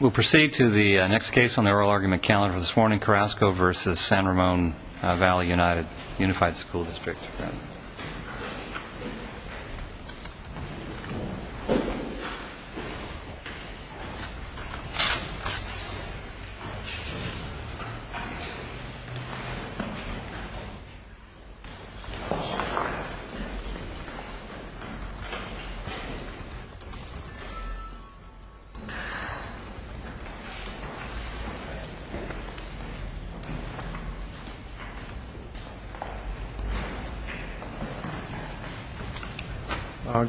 We'll proceed to the next case on the oral argument calendar for this morning, Carrasco v. San Ramon Valley Unified School District.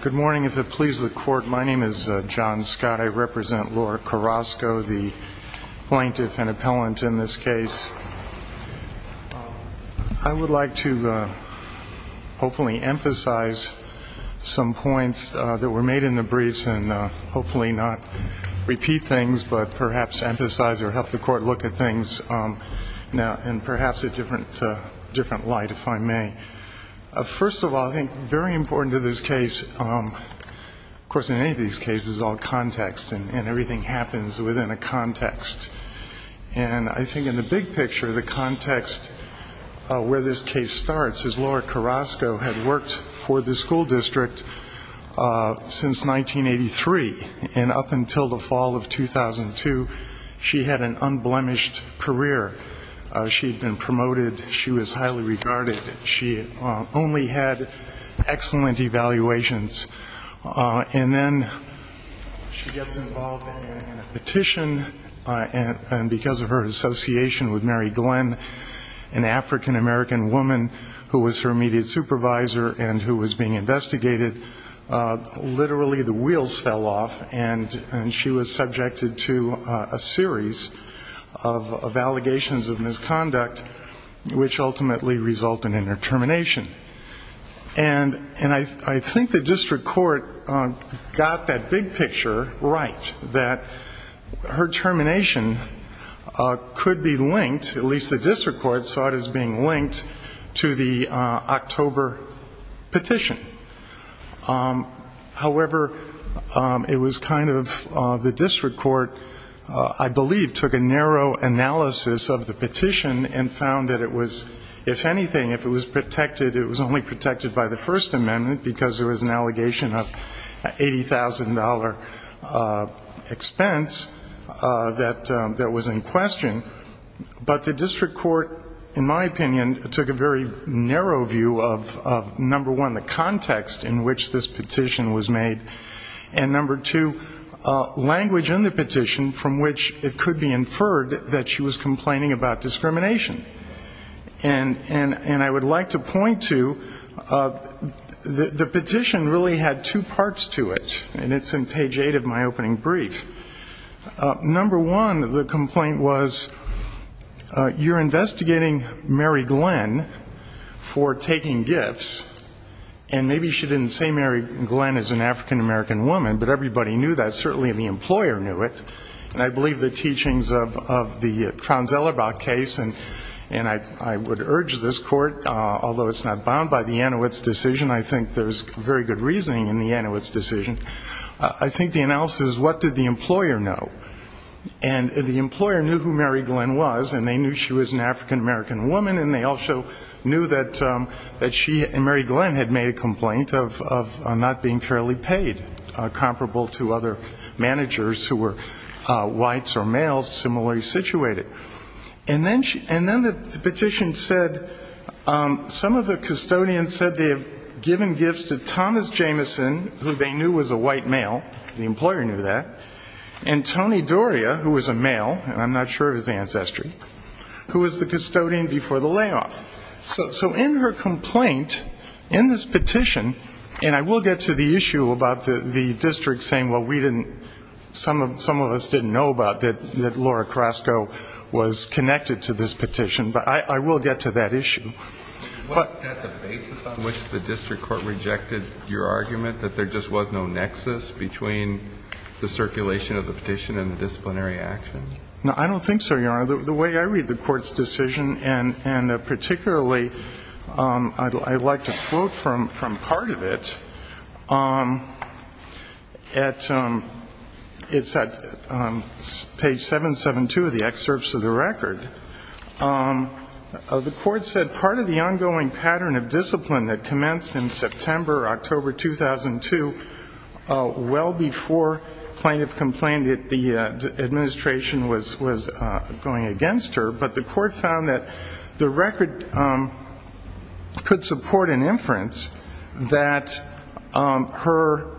Good morning. If it pleases the court, my name is John Scott. I represent Laura Carrasco, the plaintiff and appellant in this case. I would like to hopefully emphasize some points that were made in the briefs and hopefully not repeat things. But perhaps emphasize or help the court look at things now in perhaps a different light, if I may. First of all, I think very important to this case, of course in any of these cases, is all context and everything happens within a context. And I think in the big picture, the context where this case starts is Laura Carrasco had worked for the school district since 1983. And up until the fall of 2002, she had an unblemished career. She had been promoted. She was highly regarded. She only had excellent evaluations. And then she gets involved in a petition, and because of her association with Mary Glenn, an African-American woman who was her immediate supervisor and who was being investigated, literally the wheels fell off. And she was subjected to a series of allegations of misconduct, which ultimately resulted in her termination. And I think the district court got that big picture right, that her termination could be linked, at least the district court saw it as being linked, to the October petition. However, it was kind of the district court, I believe, took a narrow analysis of the petition and found that it was, if anything, if it was protected, it was only protected by the First Amendment, because there was an allegation of $80,000 expense that was in question. But the district court, in my opinion, took a very narrow view of, number one, the context of the petition. The context in which this petition was made. And, number two, language in the petition from which it could be inferred that she was complaining about discrimination. And I would like to point to, the petition really had two parts to it, and it's in page eight of my opening brief. Number one, the complaint was, you're investigating Mary Glenn for taking gifts, and it's not true. Maybe she didn't say Mary Glenn is an African-American woman, but everybody knew that, certainly the employer knew it. And I believe the teachings of the Traunz-Ellerbach case, and I would urge this court, although it's not bound by the Anowitz decision, I think there's very good reasoning in the Anowitz decision. I think the analysis is, what did the employer know? And the employer knew who Mary Glenn was, and they knew she was an African-American woman, and they also knew that she and Mary Glenn had made a complaint. Of not being fairly paid, comparable to other managers who were whites or males, similarly situated. And then the petition said, some of the custodians said they had given gifts to Thomas Jameson, who they knew was a white male. The employer knew that. And Tony Doria, who was a male, and I'm not sure of his ancestry, who was the custodian before the layoff. So in her complaint, in this petition, and I will get to the issue about the district saying, well, we didn't, some of us didn't know about that Laura Carrasco was connected to this petition. But I will get to that issue. But the basis on which the district court rejected your argument, that there just was no nexus between the circulation of the petition and the disciplinary action? No, I don't think so, Your Honor. The way I read the court's decision, and particularly, I'd like to quote from part of it. It's at page 772 of the excerpts of the record. The court said, part of the ongoing pattern of discipline that commenced in September, October 2002, well before plaintiff complained that the administration was going to do something about it. And that the administration was going against her. But the court found that the record could support an inference that her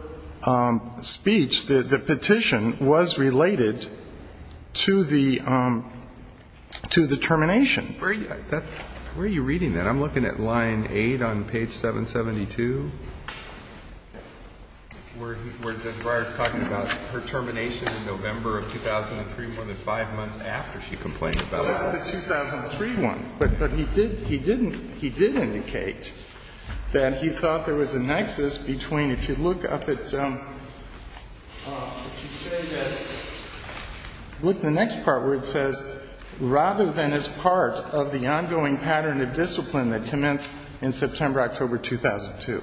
speech, the petition, was related to the termination. Where are you reading that? I'm looking at line 8 on page 772. Where Judge Breyer is talking about her termination in November of 2003, more than five months after she complained about it. Well, that's the 2003 one. But he did, he didn't, he did indicate that he thought there was a nexus between, if you look up at, if you say that, look at the next part where it says, rather than as part of the ongoing pattern of discipline that commenced in September, October 2002.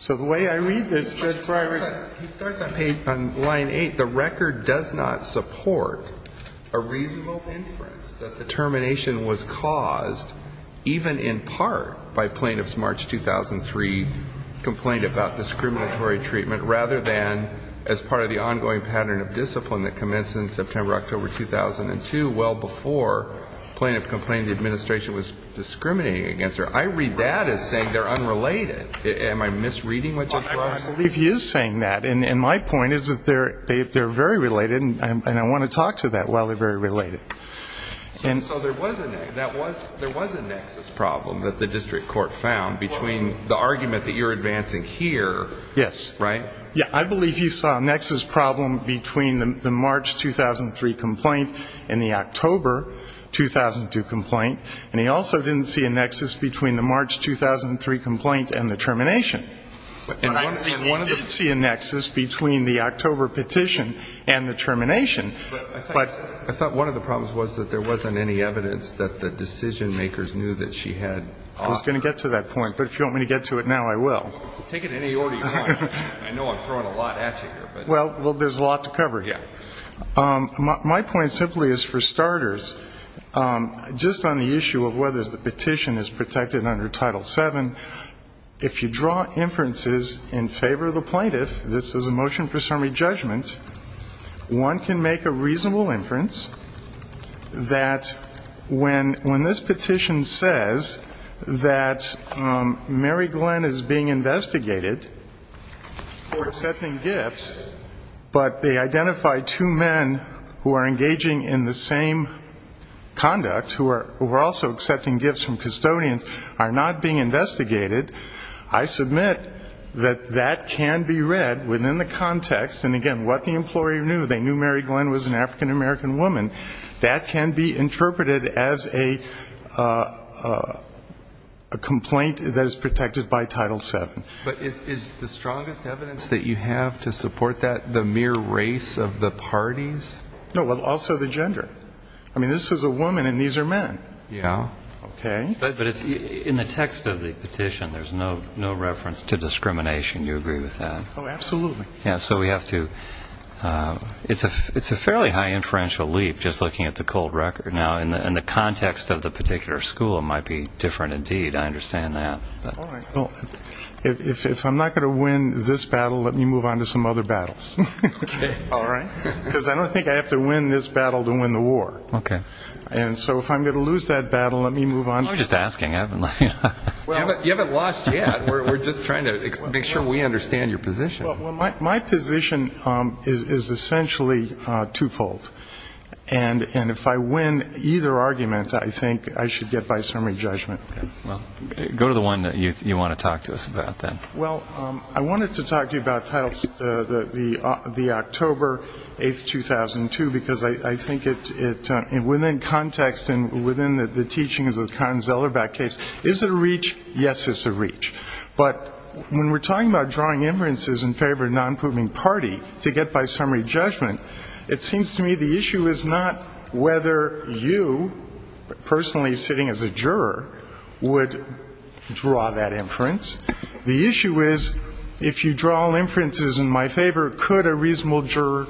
So the way I read this, Judge Breyer, he starts on page, on line 8. The record does not support a reasonable inference that the termination was caused, even in part, by plaintiff's March 2003 complaint about discriminatory treatment, rather than as part of the ongoing pattern of discipline that commenced in September, October 2002, well before plaintiff complained the administration was discriminating against her. I read that as saying they're unrelated. Am I misreading what Judge Breyer is saying? I believe he is saying that, and my point is that they're very related, and I want to talk to that while they're very related. So there was a nexus problem that the district court found between the argument that you're advancing here, right? Yes. I believe he saw a nexus problem between the March 2003 complaint and the October 2002 complaint. And he also didn't see a nexus between the March 2003 complaint and the termination. And I think he did see a nexus between the October petition and the termination. But I thought one of the problems was that there wasn't any evidence that the decision-makers knew that she had. I was going to get to that point, but if you want me to get to it now, I will. Take it in any order you want. I know I'm throwing a lot at you here. Well, there's a lot to cover here. Yeah. My point simply is, for starters, just on the issue of whether the petition is protected under Title VII, if you draw inferences in favor of the plaintiff this was a motion for summary judgment, one can make a reasonable inference that when this petition says that Mary Glenn is being investigated for accepting gifts, but they identify two men who are engaging in the same conduct, who are also accepting gifts from custodians, are not being investigated, I submit that that can be read within the context, and again, what the employer knew, they knew Mary Glenn was an African-American woman, that can be interpreted as a complaint that is protected by Title VII. But is the strongest evidence that you have to support that the mere race of the parties? No, well, also the gender. I mean, this is a woman and these are men. Yeah. Okay. But in the text of the petition, there's no reference to discrimination. Do you agree with that? Oh, absolutely. Yeah, so we have to ‑‑ it's a fairly high inferential leap just looking at the cold record. Now, in the context of the particular school, it might be different indeed. I understand that. All right. Well, if I'm not going to win this battle, let me move on to some other battles. Okay. All right? Because I don't think I have to win this battle to win the war. Okay. And so if I'm going to lose that battle, let me move on. I'm just asking. You haven't lost yet. We're just trying to make sure we understand your position. Well, my position is essentially twofold. And if I win either argument, I think I should get by summary judgment. Okay. Go to the one that you want to talk to us about then. Well, I wanted to talk to you about the October 8, 2002, because I think within context and within the teachings of the Kahn‑Zellerbach case, is it a reach? Yes, it's a reach. But when we're talking about drawing inferences in favor of a nonproving party to get by summary judgment, it seems to me the issue is not whether you, personally sitting as a juror, would draw that inference. The issue is if you draw inferences in my favor, could a reasonable juror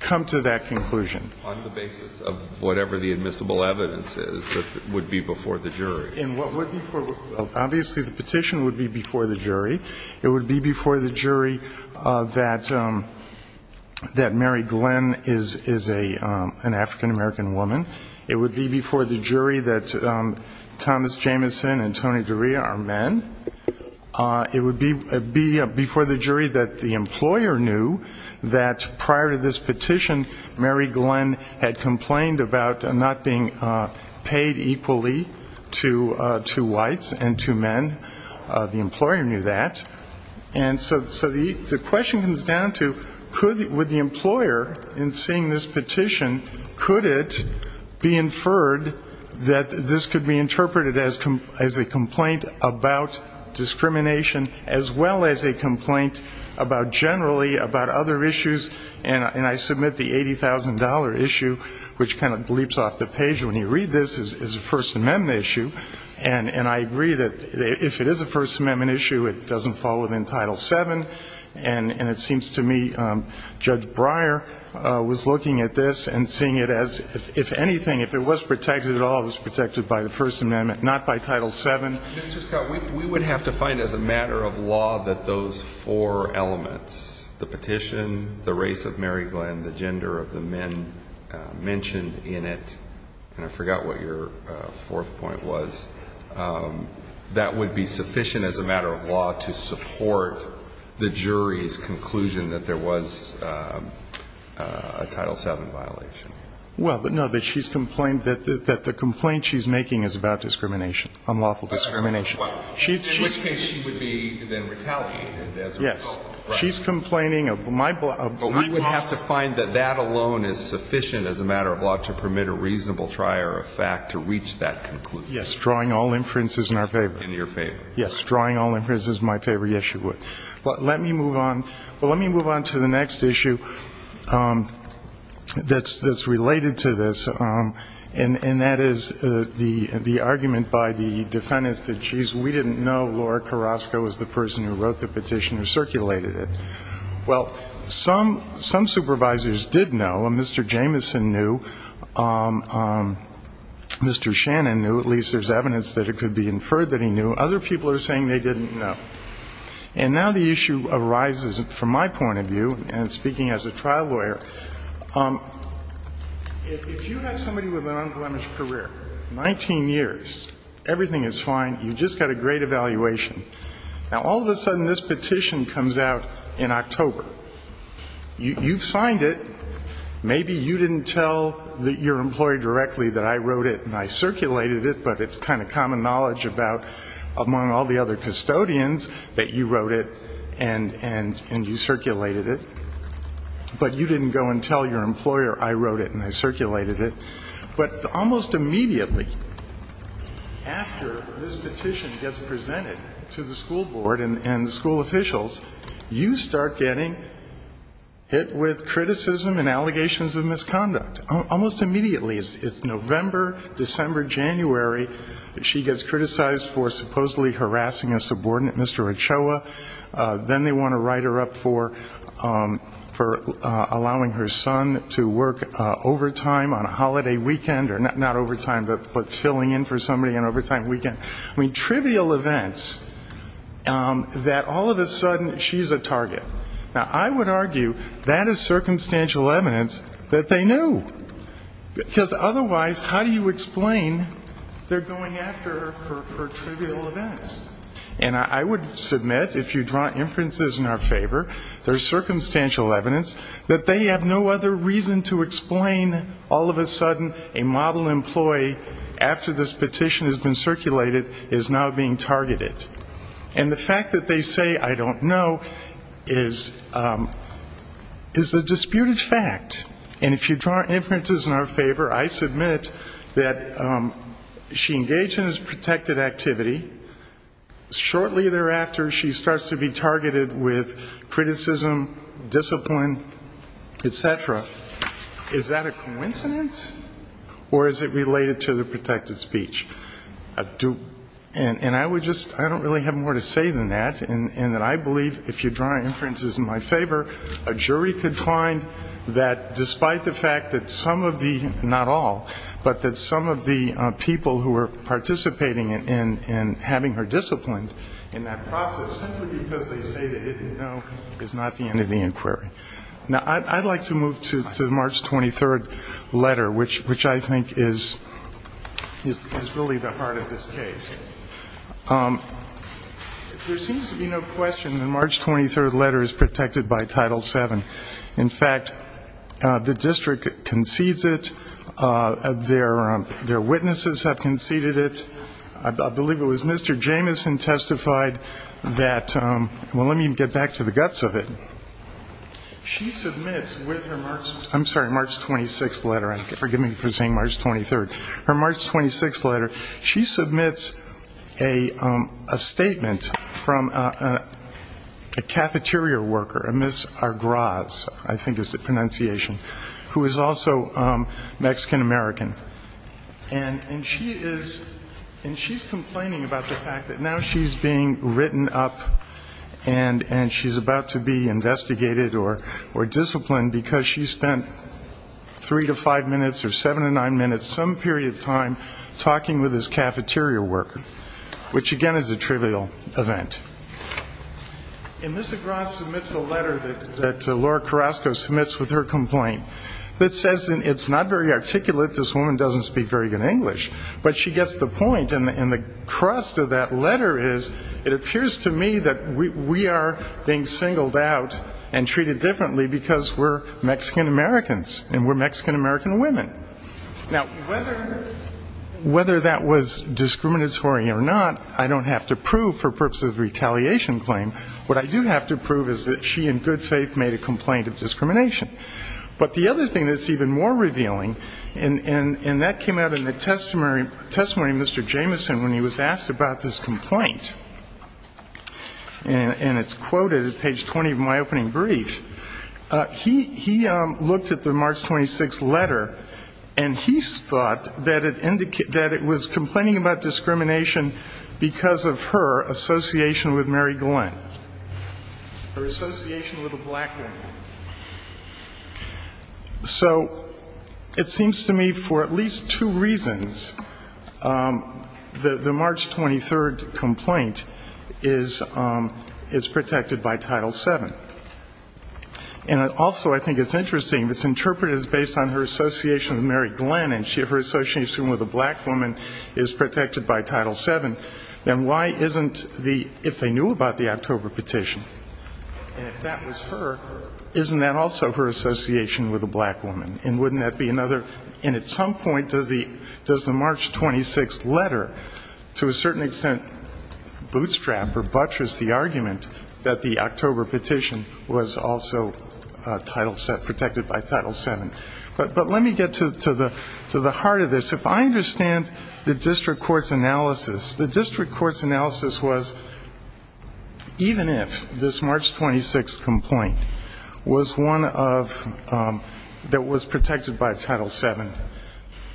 come to that conclusion? On the basis of whatever the admissible evidence is that would be before the jury. And what would be before ‑‑ obviously the petition would be before the jury. It would be before the jury that Mary Glenn is an African‑American woman. It would be before the jury that Thomas Jamison and Tony Doria are men. It would be before the jury that the employer knew that prior to this petition, Mary Glenn had complained about not being paid equally to whites and to men. The employer knew that. And so the question comes down to, with the employer in seeing this petition, could it be inferred that this could be interpreted as a complaint about discrimination as well as a complaint about generally about other issues? And I submit the $80,000 issue, which kind of leaps off the page when you read this, is a First Amendment issue. And I agree that if it is a First Amendment issue, it doesn't fall within Title VII. And it seems to me Judge Breyer was looking at this and seeing it as, if anything, if it was protected at all, it was protected by the First Amendment, not by Title VII. Mr. Scott, we would have to find as a matter of law that those four elements, the petition, the race of Mary Glenn, the gender of the men mentioned in it, and I forgot what your fourth point was, that would be sufficient as a matter of law to support the jury's conclusion that there was a Title VII violation. Well, no, that she's complained that the complaint she's making is about discrimination, unlawful discrimination. In which case she would be then retaliated as a result. Yes. She's complaining of my loss. But we would have to find that that alone is sufficient as a matter of law to permit a reasonable try or a fact to reach that conclusion. Yes. Drawing all inferences in our favor. In your favor. Yes. Drawing all inferences in my favor. Yes, you would. Let me move on. Well, let me move on to the next issue that's related to this, and that is the argument by the defendants that, geez, we didn't know Laura Carrasco was the person who wrote the petition or circulated it. Well, some supervisors did know. Mr. Jamison knew. Mr. Shannon knew. At least there's evidence that it could be inferred that he knew. Other people are saying they didn't know. And now the issue arises, from my point of view, and speaking as a trial lawyer, if you have somebody with an unblemished career, 19 years, everything is fine, you've just got a great evaluation. Now, all of a sudden, this petition comes out in October. You've signed it. Maybe you didn't tell your employer directly that I wrote it and I circulated it, but it's kind of common knowledge about, among all the other custodians, that you wrote it and you circulated it. But you didn't go and tell your employer I wrote it and I circulated it. But almost immediately after this petition gets presented to the school board and the school officials, you start getting hit with criticism and allegations of misconduct. Almost immediately, it's November, December, January, that she gets criticized for supposedly harassing a subordinate, Mr. Ochoa. Then they want to write her up for allowing her son to work overtime on a holiday weekend, or not overtime, but filling in for somebody on overtime weekend. I mean, trivial events that all of a sudden she's a target. Now, I would argue that is circumstantial evidence that they knew. Because otherwise, how do you explain they're going after her for trivial events? And I would submit, if you draw inferences in our favor, there's circumstantial evidence that they have no other reason to explain all of a sudden a model employee, after this petition has been circulated, is now being targeted. And the fact that they say, I don't know, is a disputed fact. And if you draw inferences in our favor, I submit that she engaged in this protected activity. Shortly thereafter, she starts to be targeted with criticism, discipline, et cetera. Is that a coincidence, or is it related to the protected speech? And I would just, I don't really have more to say than that, and that I believe, if you draw inferences in my favor, a jury could find that despite the fact that some of the, not all, but that some of the people who were participating in having her disciplined in that process, simply because they say they didn't know, is not the end of the inquiry. Now, I'd like to move to the March 23rd letter, which I think is really the heart of this case. There seems to be no question the March 23rd letter is protected by Title VII. In fact, the district concedes it. Their witnesses have conceded it. I believe it was Mr. Jamison testified that, well, let me get back to the guts of it. She submits with her March, I'm sorry, March 26th letter. Forgive me for saying March 23rd. Her March 26th letter, she submits a statement from a cafeteria worker, a Ms. Argraz, I think is the pronunciation, who is also Mexican-American. And she is complaining about the fact that now she's being written up and she's about to be investigated or disciplined, because she spent three to five minutes or seven to nine minutes, some period of time, talking with this cafeteria worker, which, again, is a trivial event. And Ms. Argraz submits a letter that Laura Carrasco submits with her complaint that says it's not very articulate, this woman doesn't speak very good English, but she gets the point, and the crust of that letter is it appears to me that we are being singled out and treated differently, because we're Mexican-Americans and we're Mexican-American women. Now, whether that was discriminatory or not, I don't have to prove for purposes of retaliation claim. What I do have to prove is that she in good faith made a complaint of discrimination. But the other thing that's even more revealing, and that came out in the testimony of Mr. Jamison when he was asked about this complaint, and it's quoted at page 20 of my opening brief, he looked at the March 26th letter, and he thought that it was complaining about discrimination because of her association with Mary Glenn, her association with a black man. So it seems to me for at least two reasons, the March 23rd complaint, and the March 26th letter, that it was a complaint of discrimination because the March 23rd complaint is protected by Title VII. And also I think it's interesting, it's interpreted as based on her association with Mary Glenn, and her association with a black woman is protected by Title VII. Then why isn't the, if they knew about the October petition, and if that was her, isn't that also her association with a black woman? And wouldn't that be another, and at some point does the March 26th letter, to a certain extent, do you think it's a complaint of discrimination? I don't think it would bootstrap or buttress the argument that the October petition was also protected by Title VII. But let me get to the heart of this. If I understand the district court's analysis, the district court's analysis was even if this March 26th complaint was one that was protected by Title VII,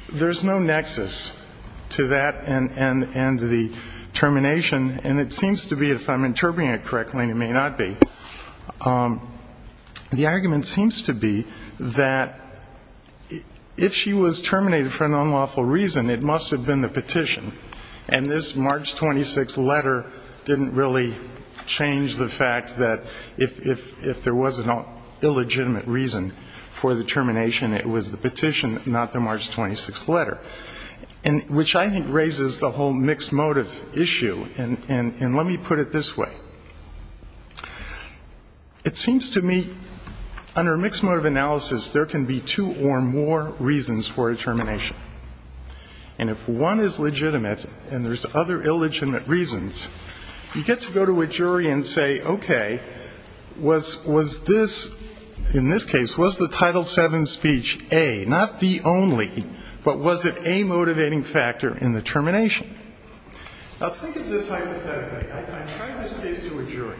there's no nexus to that and the termination. And it seems to be, if I'm interpreting it correctly, and it may not be, the argument seems to be that if she was terminated for an unlawful reason, it must have been the petition. And this March 26th letter didn't really change the fact that if there was an illegitimate reason for the termination, it was the petition, not the petition. It was the petition, not the March 26th letter, which I think raises the whole mixed motive issue. And let me put it this way. It seems to me, under mixed motive analysis, there can be two or more reasons for a termination. And if one is legitimate and there's other illegitimate reasons, you get to go to a jury and say, okay, was this, in this case, was the Title VII speech A, not the only one? But was it a motivating factor in the termination? Now, think of this hypothetically. I tried this case to a jury,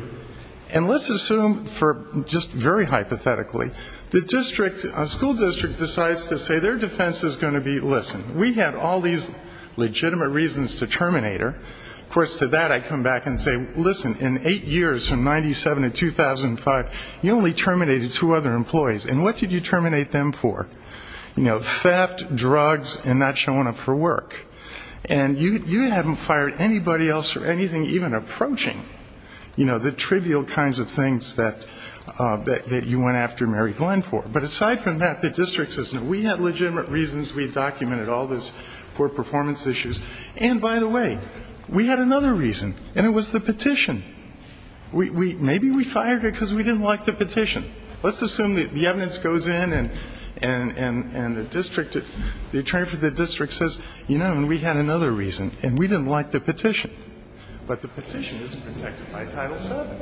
and let's assume for just very hypothetically, the district, a school district decides to say their defense is going to be, listen, we have all these legitimate reasons to terminate her. Of course, to that I come back and say, listen, in eight years from 97 to 2005, you only terminated two other employees. And what did you terminate them for? You know, theft, drugs, and not showing up for work. And you haven't fired anybody else or anything even approaching, you know, the trivial kinds of things that you went after Mary Glenn for. But aside from that, the district says, no, we have legitimate reasons, we've documented all this poor performance issues. And by the way, we had another reason, and it was the petition. Maybe we fired her because we didn't like the petition. Let's assume the evidence goes in and the district, the attorney for the district says, you know, we had another reason, and we didn't like the petition. But the petition is protected by Title VII.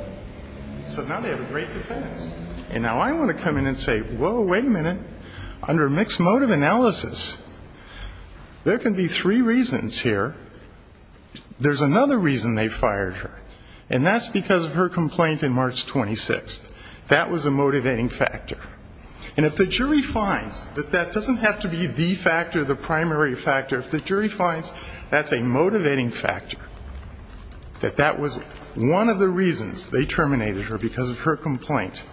So now they have a great defense. And now I want to come in and say, whoa, wait a minute, under mixed motive analysis, there can be three reasons here. There's another reason they fired her, and that's because of her complaint in March 26th. That was a motivating factor. And if the jury finds that that doesn't have to be the factor, the primary factor, if the jury finds that's a motivating factor, that that was one of the reasons they terminated her because of her complaint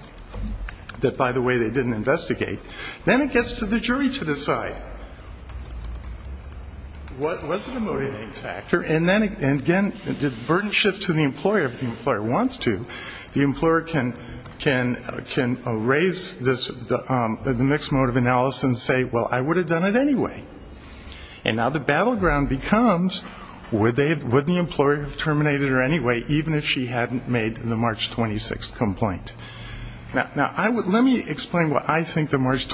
that, by the way, they didn't investigate, then it gets to the jury to decide. Was it a motivating factor? And again, the burden shifts to the employer. If the employer wants to, the employer can raise the mixed motive analysis and say, well, I would have done it anyway. And now the battleground becomes, would the employer have terminated her anyway, even if she hadn't made the March 26th complaint? Now, let me explain why I think the March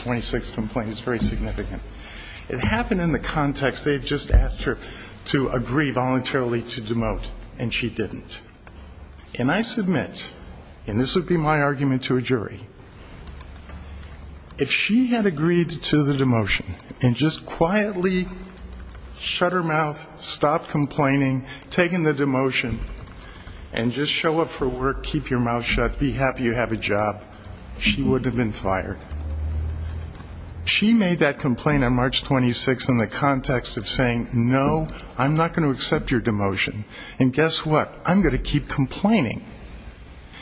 26th complaint is very significant. It happened in the context, they had just asked her to agree voluntarily to demote, and she didn't. And I submit, and this would be my argument to a jury, if she had agreed to the demotion and just quietly shut her mouth, she would not have been fired. Just shut her mouth, stop complaining, take in the demotion, and just show up for work, keep your mouth shut, be happy you have a job, she wouldn't have been fired. She made that complaint on March 26th in the context of saying, no, I'm not going to accept your demotion. And guess what, I'm going to keep complaining.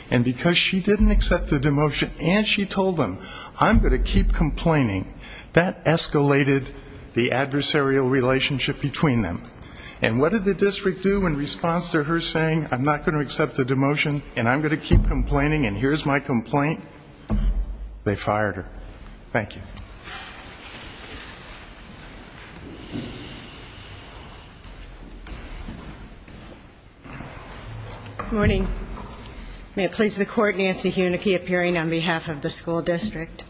And because she didn't accept the demotion and she told them, I'm going to keep complaining, that escalated the adversarial relationship between her and the employer. And what did the district do in response to her saying, I'm not going to accept the demotion, and I'm going to keep complaining, and here's my complaint? They fired her. Thank you. Good morning. May it please the Court, Nancy Hoenigke appearing on behalf of the school district.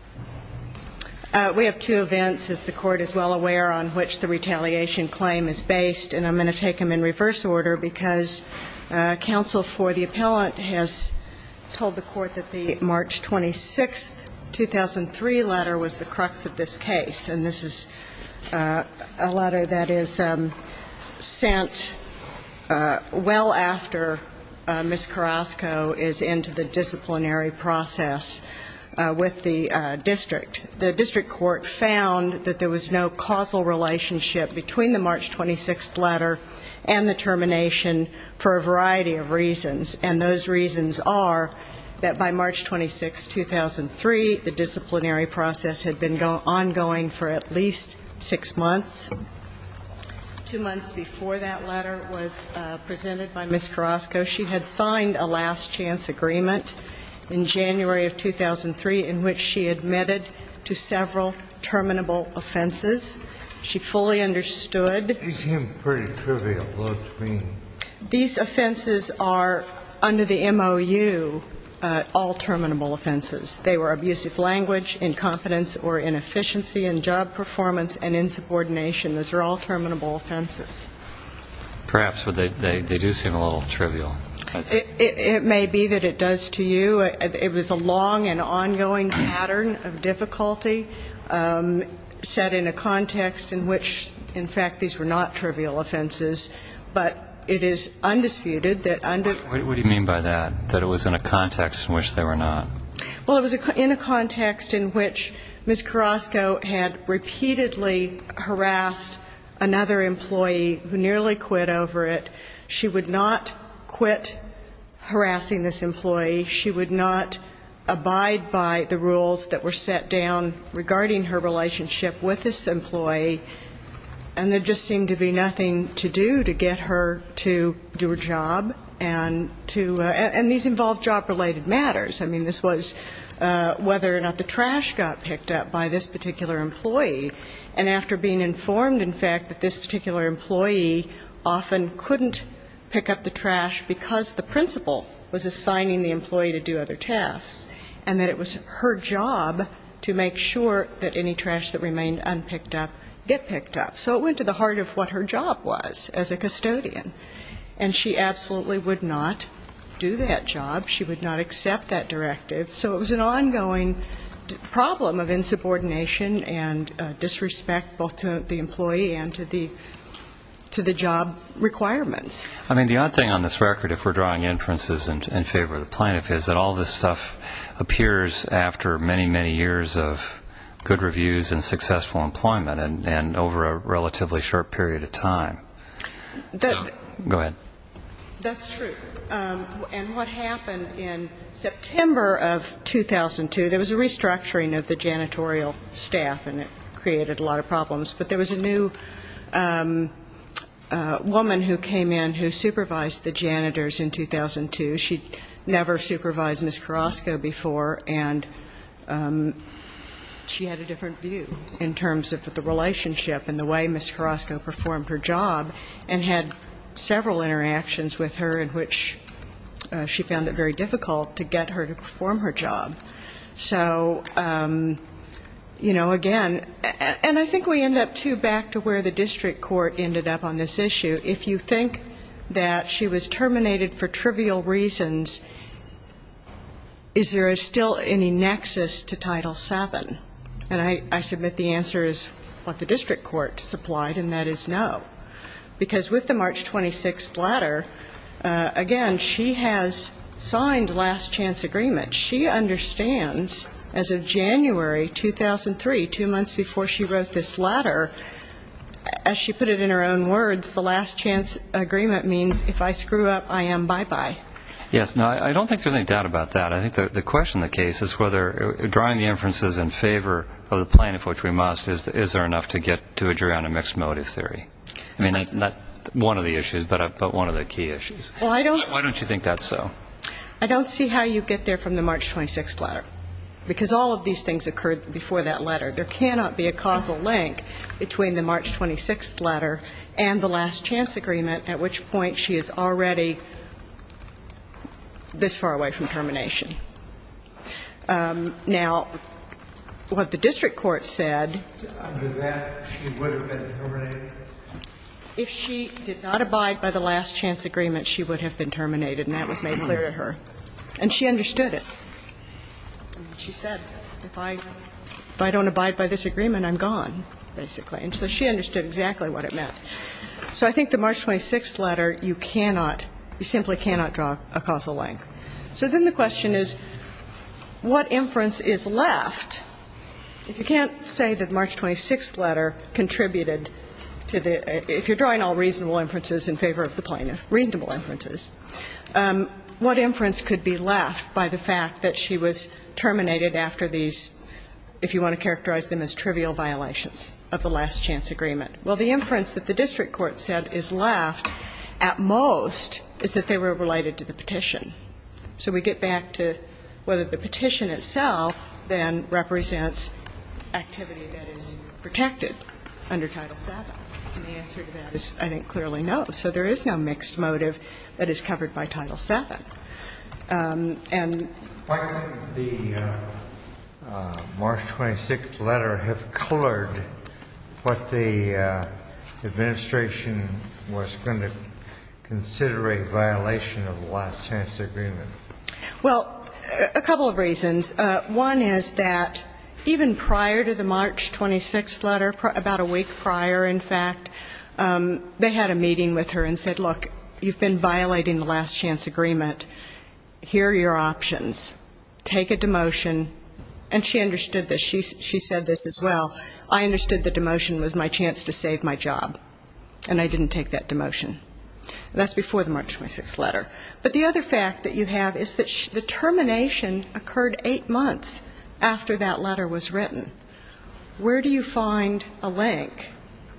We have two events, as the Court is well aware, on which the retaliation claim is based, and I'm going to take them in reverse order, because counsel for the appellant has told the Court that the March 26th, 2003 letter was the crux of the case. And this is a letter that is sent well after Ms. Carrasco is into the disciplinary process with the district. The district court found that there was no causal relationship between the March 26th letter and the termination for a variety of reasons. And those reasons are that by March 26th, 2003, the disciplinary process had been on the table, and Ms. Carrasco had been fired. The disciplinary process had been ongoing for at least six months. Two months before that letter was presented by Ms. Carrasco, she had signed a last-chance agreement in January of 2003 in which she admitted to several terminable offenses. She fully understood these offenses are under the MOU, all terminable offenses. They were abusive language, incompetence or inefficiency in job performance, and insubordination. Those are all terminable offenses. Perhaps they do seem a little trivial. It may be that it does to you. It was a long and ongoing pattern of difficulty set in a context in which, in fact, these were not trivial offenses, but it is undisputed that they were not. What do you mean by that, that it was in a context in which they were not? Well, it was in a context in which Ms. Carrasco had repeatedly harassed another employee who nearly quit over it. She would not quit harassing this employee. She would not abide by the rules that were set down regarding her relationship with this employee. And these involved job-related matters. I mean, this was whether or not the trash got picked up by this particular employee. And after being informed, in fact, that this particular employee often couldn't pick up the trash because the principal was assigning the employee to do other tasks, and that it was her job to make sure that any trash that remained unpicked up get picked up. So it went to the heart of what her job was as a custodian. And she absolutely would not do that job. She would not accept that directive. So it was an ongoing problem of insubordination and disrespect both to the employee and to the job requirements. I mean, the odd thing on this record, if we're drawing inferences in favor of the plaintiff, is that all this stuff appears after many, many years of good relatively short period of time. Go ahead. That's true. And what happened in September of 2002, there was a restructuring of the janitorial staff, and it created a lot of problems. But there was a new woman who came in who supervised the janitors in 2002. She'd never supervised Ms. Carrasco before, and she had a different view in terms of the relationship and the way men and women would interact with each other. And I think we end up, too, back to where the district court ended up on this issue. If you think that she was terminated for trivial reasons, is there still any nexus to Title VII? And I submit the answer is what the district court supplied her with. And that is no. Because with the March 26th letter, again, she has signed last-chance agreement. She understands as of January 2003, two months before she wrote this letter, as she put it in her own words, the last-chance agreement means if I screw up, I am bye-bye. Yes. No, I don't think there's any doubt about that. I think the question in the case is whether drawing the inferences in favor of the plan, of which we must, is there enough to get to a jury on a mixed motive theory? I mean, not one of the issues, but one of the key issues. Why don't you think that's so? I don't see how you get there from the March 26th letter, because all of these things occurred before that letter. There cannot be a causal link between the March 26th letter and the last-chance agreement, at which point she is already this far away from termination. Now, what the district court said was that she would have been terminated. If she did not abide by the last-chance agreement, she would have been terminated, and that was made clear to her. And she understood it. She said, if I don't abide by this agreement, I'm gone, basically. And so she understood exactly what it meant. So I think the March 26th letter, you cannot, you simply cannot draw a causal link. So then the question is, what inference is left? If you can't say that the March 26th letter contributed to the, if you're drawing all reasonable inferences in favor of the plan, reasonable inferences, what inference could be left by the fact that she was terminated after these, if you want to characterize them as trivial violations of the last-chance agreement? Well, the inference that the district court said is left at most is that they were related to the petition. So we get back to whether the petition itself then represents activity that is protected under Title VII. And the answer to that is, I think, clearly no. So there is no mixed motive that is covered by Title VII. And why couldn't the March 26th letter have colored what the administration was going to consider a violation of the last-chance agreement? Well, a couple of reasons. One is that even prior to the March 26th letter, about a week prior, in fact, they had a meeting with her and said, look, you've been violating the last-chance agreement, here are your options, take a demotion. And she understood this. She said this as well. I understood the demotion was my chance to save my job, and I didn't take that demotion. That's before the March 26th letter. But the other fact that you have is that the termination occurred eight months after that letter was written. Where do you find a link,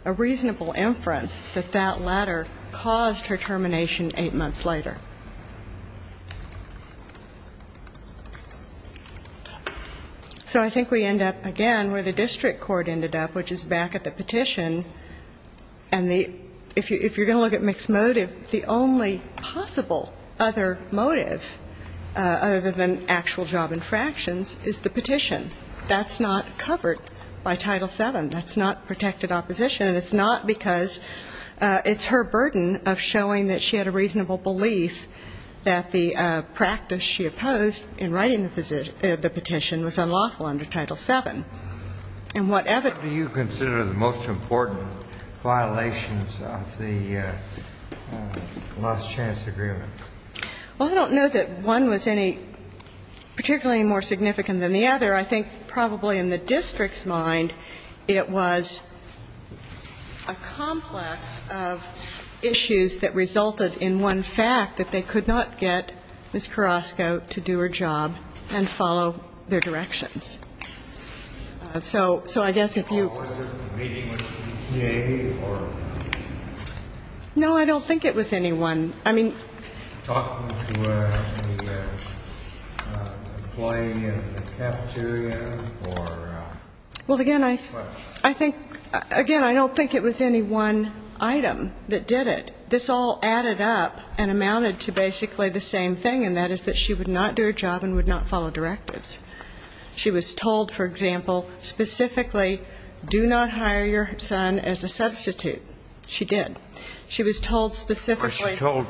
a reasonable inference, that that letter caused her termination eight months later? So I think we end up again where the district court ended up, which is back at the petition. And if you're going to look at mixed motive, the only possible other motive other than actual job infractions is the petition. That's not covered by Title VII. That's not protected opposition, and it's not because it's her burden of showing that she had a reasonable belief that the practice she opposed in writing the petition was unlawful under Title VII. And what evidence do you consider the most important violations of the last-chance agreement? Well, I don't know that one was any particularly more significant than the other. I think probably in the district's mind it was a complex of issues that resulted in one fact that they could not get Ms. Carrasco to do her job. And follow their directions. So I guess if you... No, I don't think it was any one. I mean... Well, again, I don't think it was any one item that did it. This all added up and amounted to basically the same thing, and that is that she would not do her job and would not follow directives. She was told, for example, specifically, do not hire your son as a substitute. She did. She was told specifically... She was told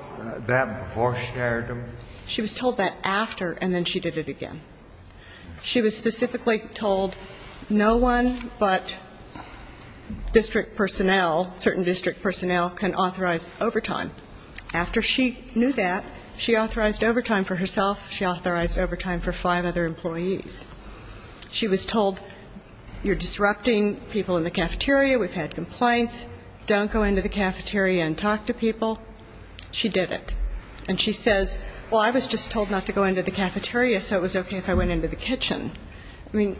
that before she hired him? She was told that after, and then she did it again. She was specifically told no one but district personnel, certain district personnel, can authorize overtime. After she knew that, she authorized overtime for herself, she authorized overtime for five other employees. She was told, you're disrupting people in the cafeteria, we've had complaints, don't go into the cafeteria and talk to people. She did it. And she says, well, I was just told not to go into the cafeteria, so it was okay if I went into the kitchen. I mean,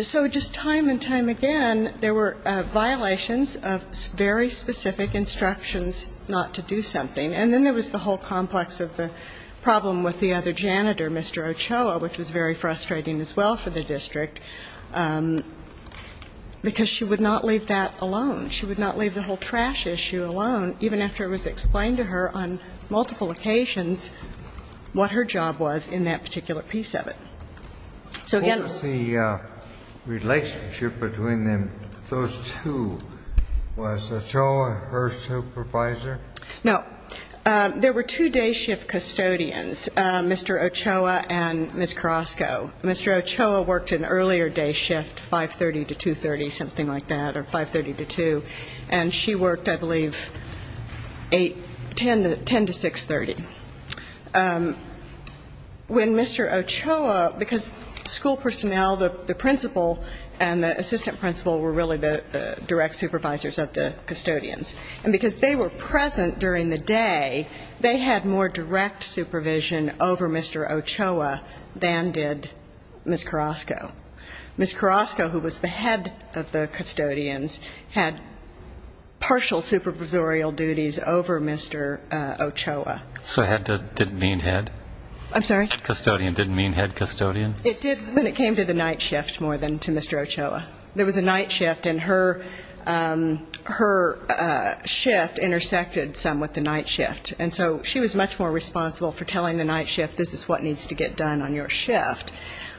so just time and time again, there were violations of very specific instructions not to do something. And then there was the whole complex of the problem with the other janitor, Mr. Ochoa, which was very frustrating as well for the district. Because she would not leave that alone. She would not leave the whole trash issue alone, even after it was explained to her on multiple occasions what her job was in that particular piece of it. So again... What was the relationship between those two? Was Ochoa her supervisor? No. There were two day shift custodians, Mr. Ochoa and Ms. Carrasco. Mr. Ochoa worked an earlier day shift, 5.30 to 2.30, something like that, or 5.30 to 2. And she worked, I believe, 10 to 6.30. When Mr. Ochoa, because school personnel, the principal and the assistant principal were really the direct supervisors of the custodians. And because they were present during the day, they had more direct supervision over Mr. Ochoa than did Ms. Carrasco. Ms. Carrasco, who was the head of the custodians, had partial supervisorial duties over Mr. Ochoa. So head didn't mean head? I'm sorry? Head custodian didn't mean head custodian? It did when it came to the night shift more than to Mr. Ochoa. There was a night shift, and her shift intersected some with the night shift. And so she was much more responsible for telling the night shift, this is what needs to get done on your shift.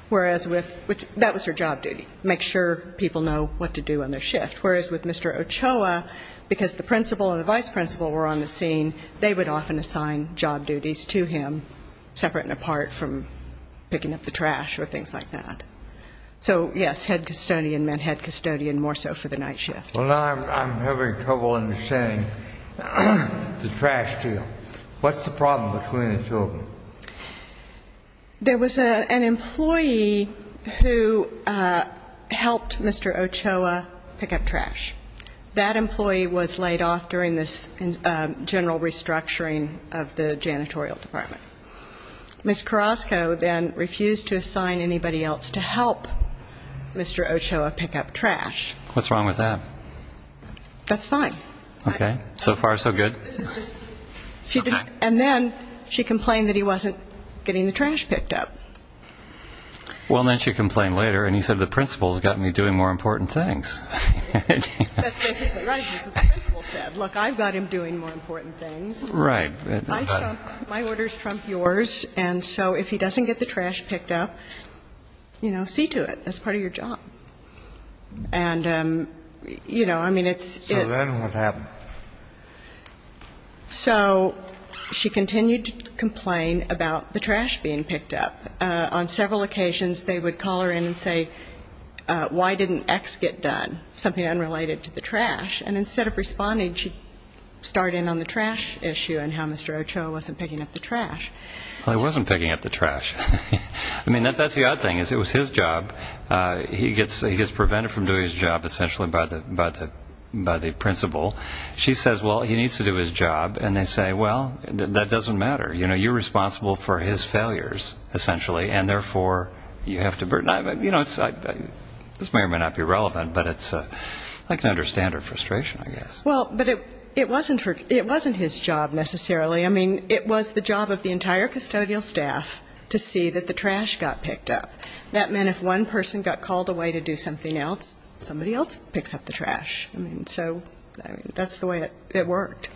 Whereas with, that was her job duty, make sure people know what to do on their shift. Whereas with Mr. Ochoa, because the principal and the vice principal were on the scene, they would often assign job duties to him, separate and apart from picking up the trash or things like that. So, yes, head custodian meant head custodian more so for the night shift. Well, now I'm having trouble understanding the trash deal. What's the problem between the two of them? There was an employee who helped Mr. Ochoa pick up trash. That employee was laid off during this general restructuring of the janitorial department. Ms. Carrasco then refused to assign anybody else to help Mr. Ochoa pick up trash. What's wrong with that? That's fine. Okay. You said the principal's got me doing more important things. That's basically right. That's what the principal said. Look, I've got him doing more important things. My order's trump yours, and so if he doesn't get the trash picked up, you know, see to it. That's part of your job. So then what happened? So she continued to complain about the trash being picked up. On several occasions they would call her in and say, why didn't X get done, something unrelated to the trash. And instead of responding, she starred in on the trash issue and how Mr. Ochoa wasn't picking up the trash. Well, he wasn't picking up the trash. I mean, that's the odd thing. It was his job. He gets prevented from doing his job, essentially, by the principal. She says, well, he needs to do his job, and they say, well, that doesn't matter. You know, you're responsible for his failures, essentially, and therefore you have to burn it. You know, this may or may not be relevant, but I can understand her frustration, I guess. Well, but it wasn't his job, necessarily. I mean, it was the job of the entire custodial staff to see that the trash got picked up. That meant if one person got called away to do something else, somebody else picks up the trash. I mean, so that's the way it worked.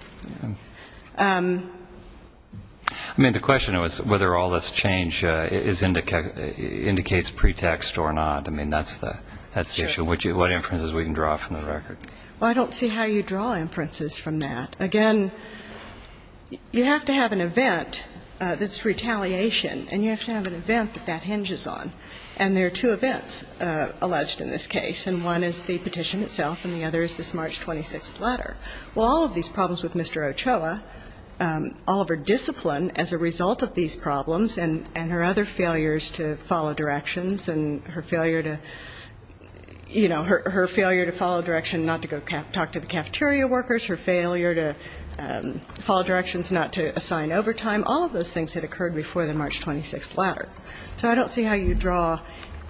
I mean, the question was whether all this change indicates pretext or not. I mean, that's the issue. What inferences we can draw from the record. Well, I don't see how you draw inferences from that. Again, you have to have an event, this retaliation, and you have to have an event that that hinges on. And there are two events alleged in this case, and one is the petition itself and the other is this March 26th letter. Well, all of these problems with Mr. Ochoa, all of her discipline as a result of these problems and her other failures to follow directions and her failure to, you know, her failure to follow direction not to go talk to the cafeteria workers, her failure to follow directions not to assign overtime, all of those things that occurred before the March 26th letter. So I don't see how you draw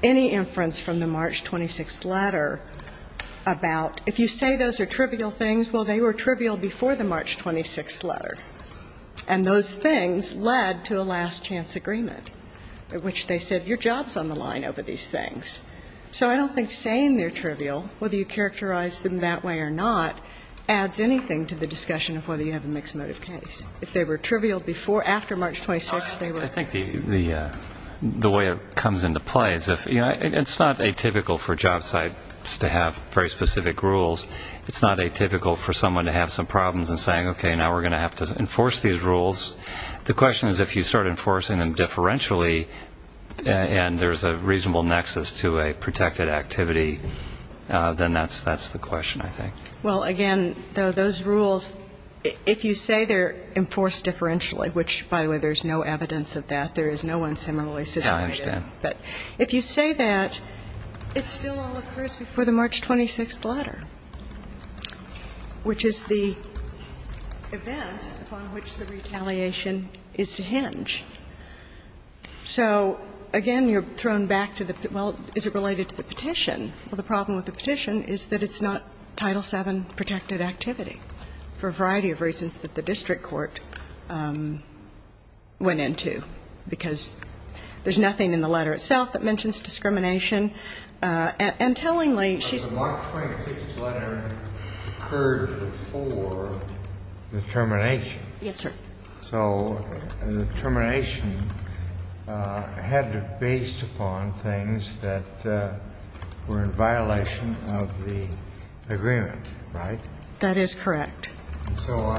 any inference from the March 26th letter about if you say those are trivial things, well, they were trivial before the March 26th letter. And those things led to a last-chance agreement, which they said your job is on the line over these things. So I don't think saying they're trivial, whether you characterize them that way or not, adds anything to the discussion of whether you have a mixed motive case. If they were trivial before or after March 26th, they were. I think the way it comes into play is if, you know, it's not atypical for job sites to have very specific rules. It's not atypical for someone to have some problems in saying, okay, now we're going to have to enforce these rules. The question is if you start enforcing them differentially and there's a reasonable nexus to a protected activity, then that's the question, I think. Well, again, though, those rules, if you say they're enforced differentially, which, by the way, there's no evidence of that. There is no unseemly situation. Yeah, I understand. But if you say that, it still all occurs before the March 26th letter, which is the event upon which the retaliation is to hinge. So, again, you're thrown back to the, well, is it related to the petition? Well, the problem with the petition is that it's not Title VII protected activity for a variety of reasons that the district court went into, because there's nothing in the letter itself that mentions discrimination. And tellingly, she's not going to say that. The March 26th letter occurred before the termination. Yes, sir. So the termination had it based upon things that were in violation of the agreement, right? That is correct. So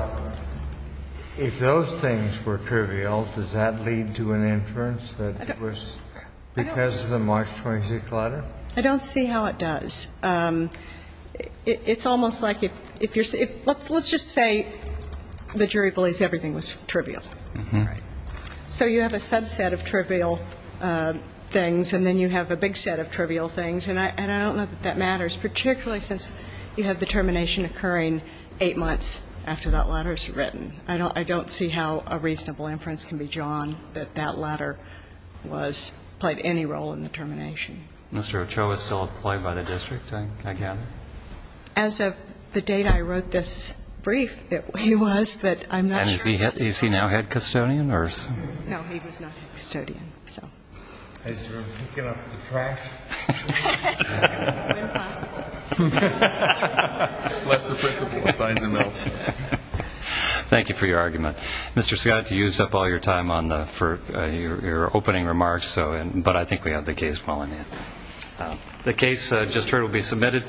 if those things were trivial, does that lead to an inference that it was because of the March 26th letter? I don't see how it does. Let's just say the jury believes everything was trivial. Right. So you have a subset of trivial things, and then you have a big set of trivial things. And I don't know that that matters, particularly since you have the termination occurring eight months after that letter is written. I don't see how a reasonable inference can be drawn that that letter was, played any role in the termination. Mr. Ochoa is still employed by the district, I gather? As of the date I wrote this brief, he was. But I'm not sure. And is he now head custodian? No, he was not head custodian. So. Is he picking up the trash? Impossible. That's the principle of signs and notes. Thank you for your argument. Mr. Scott, you used up all your time on your opening remarks, but I think we have the case well in hand. The case just heard will be submitted.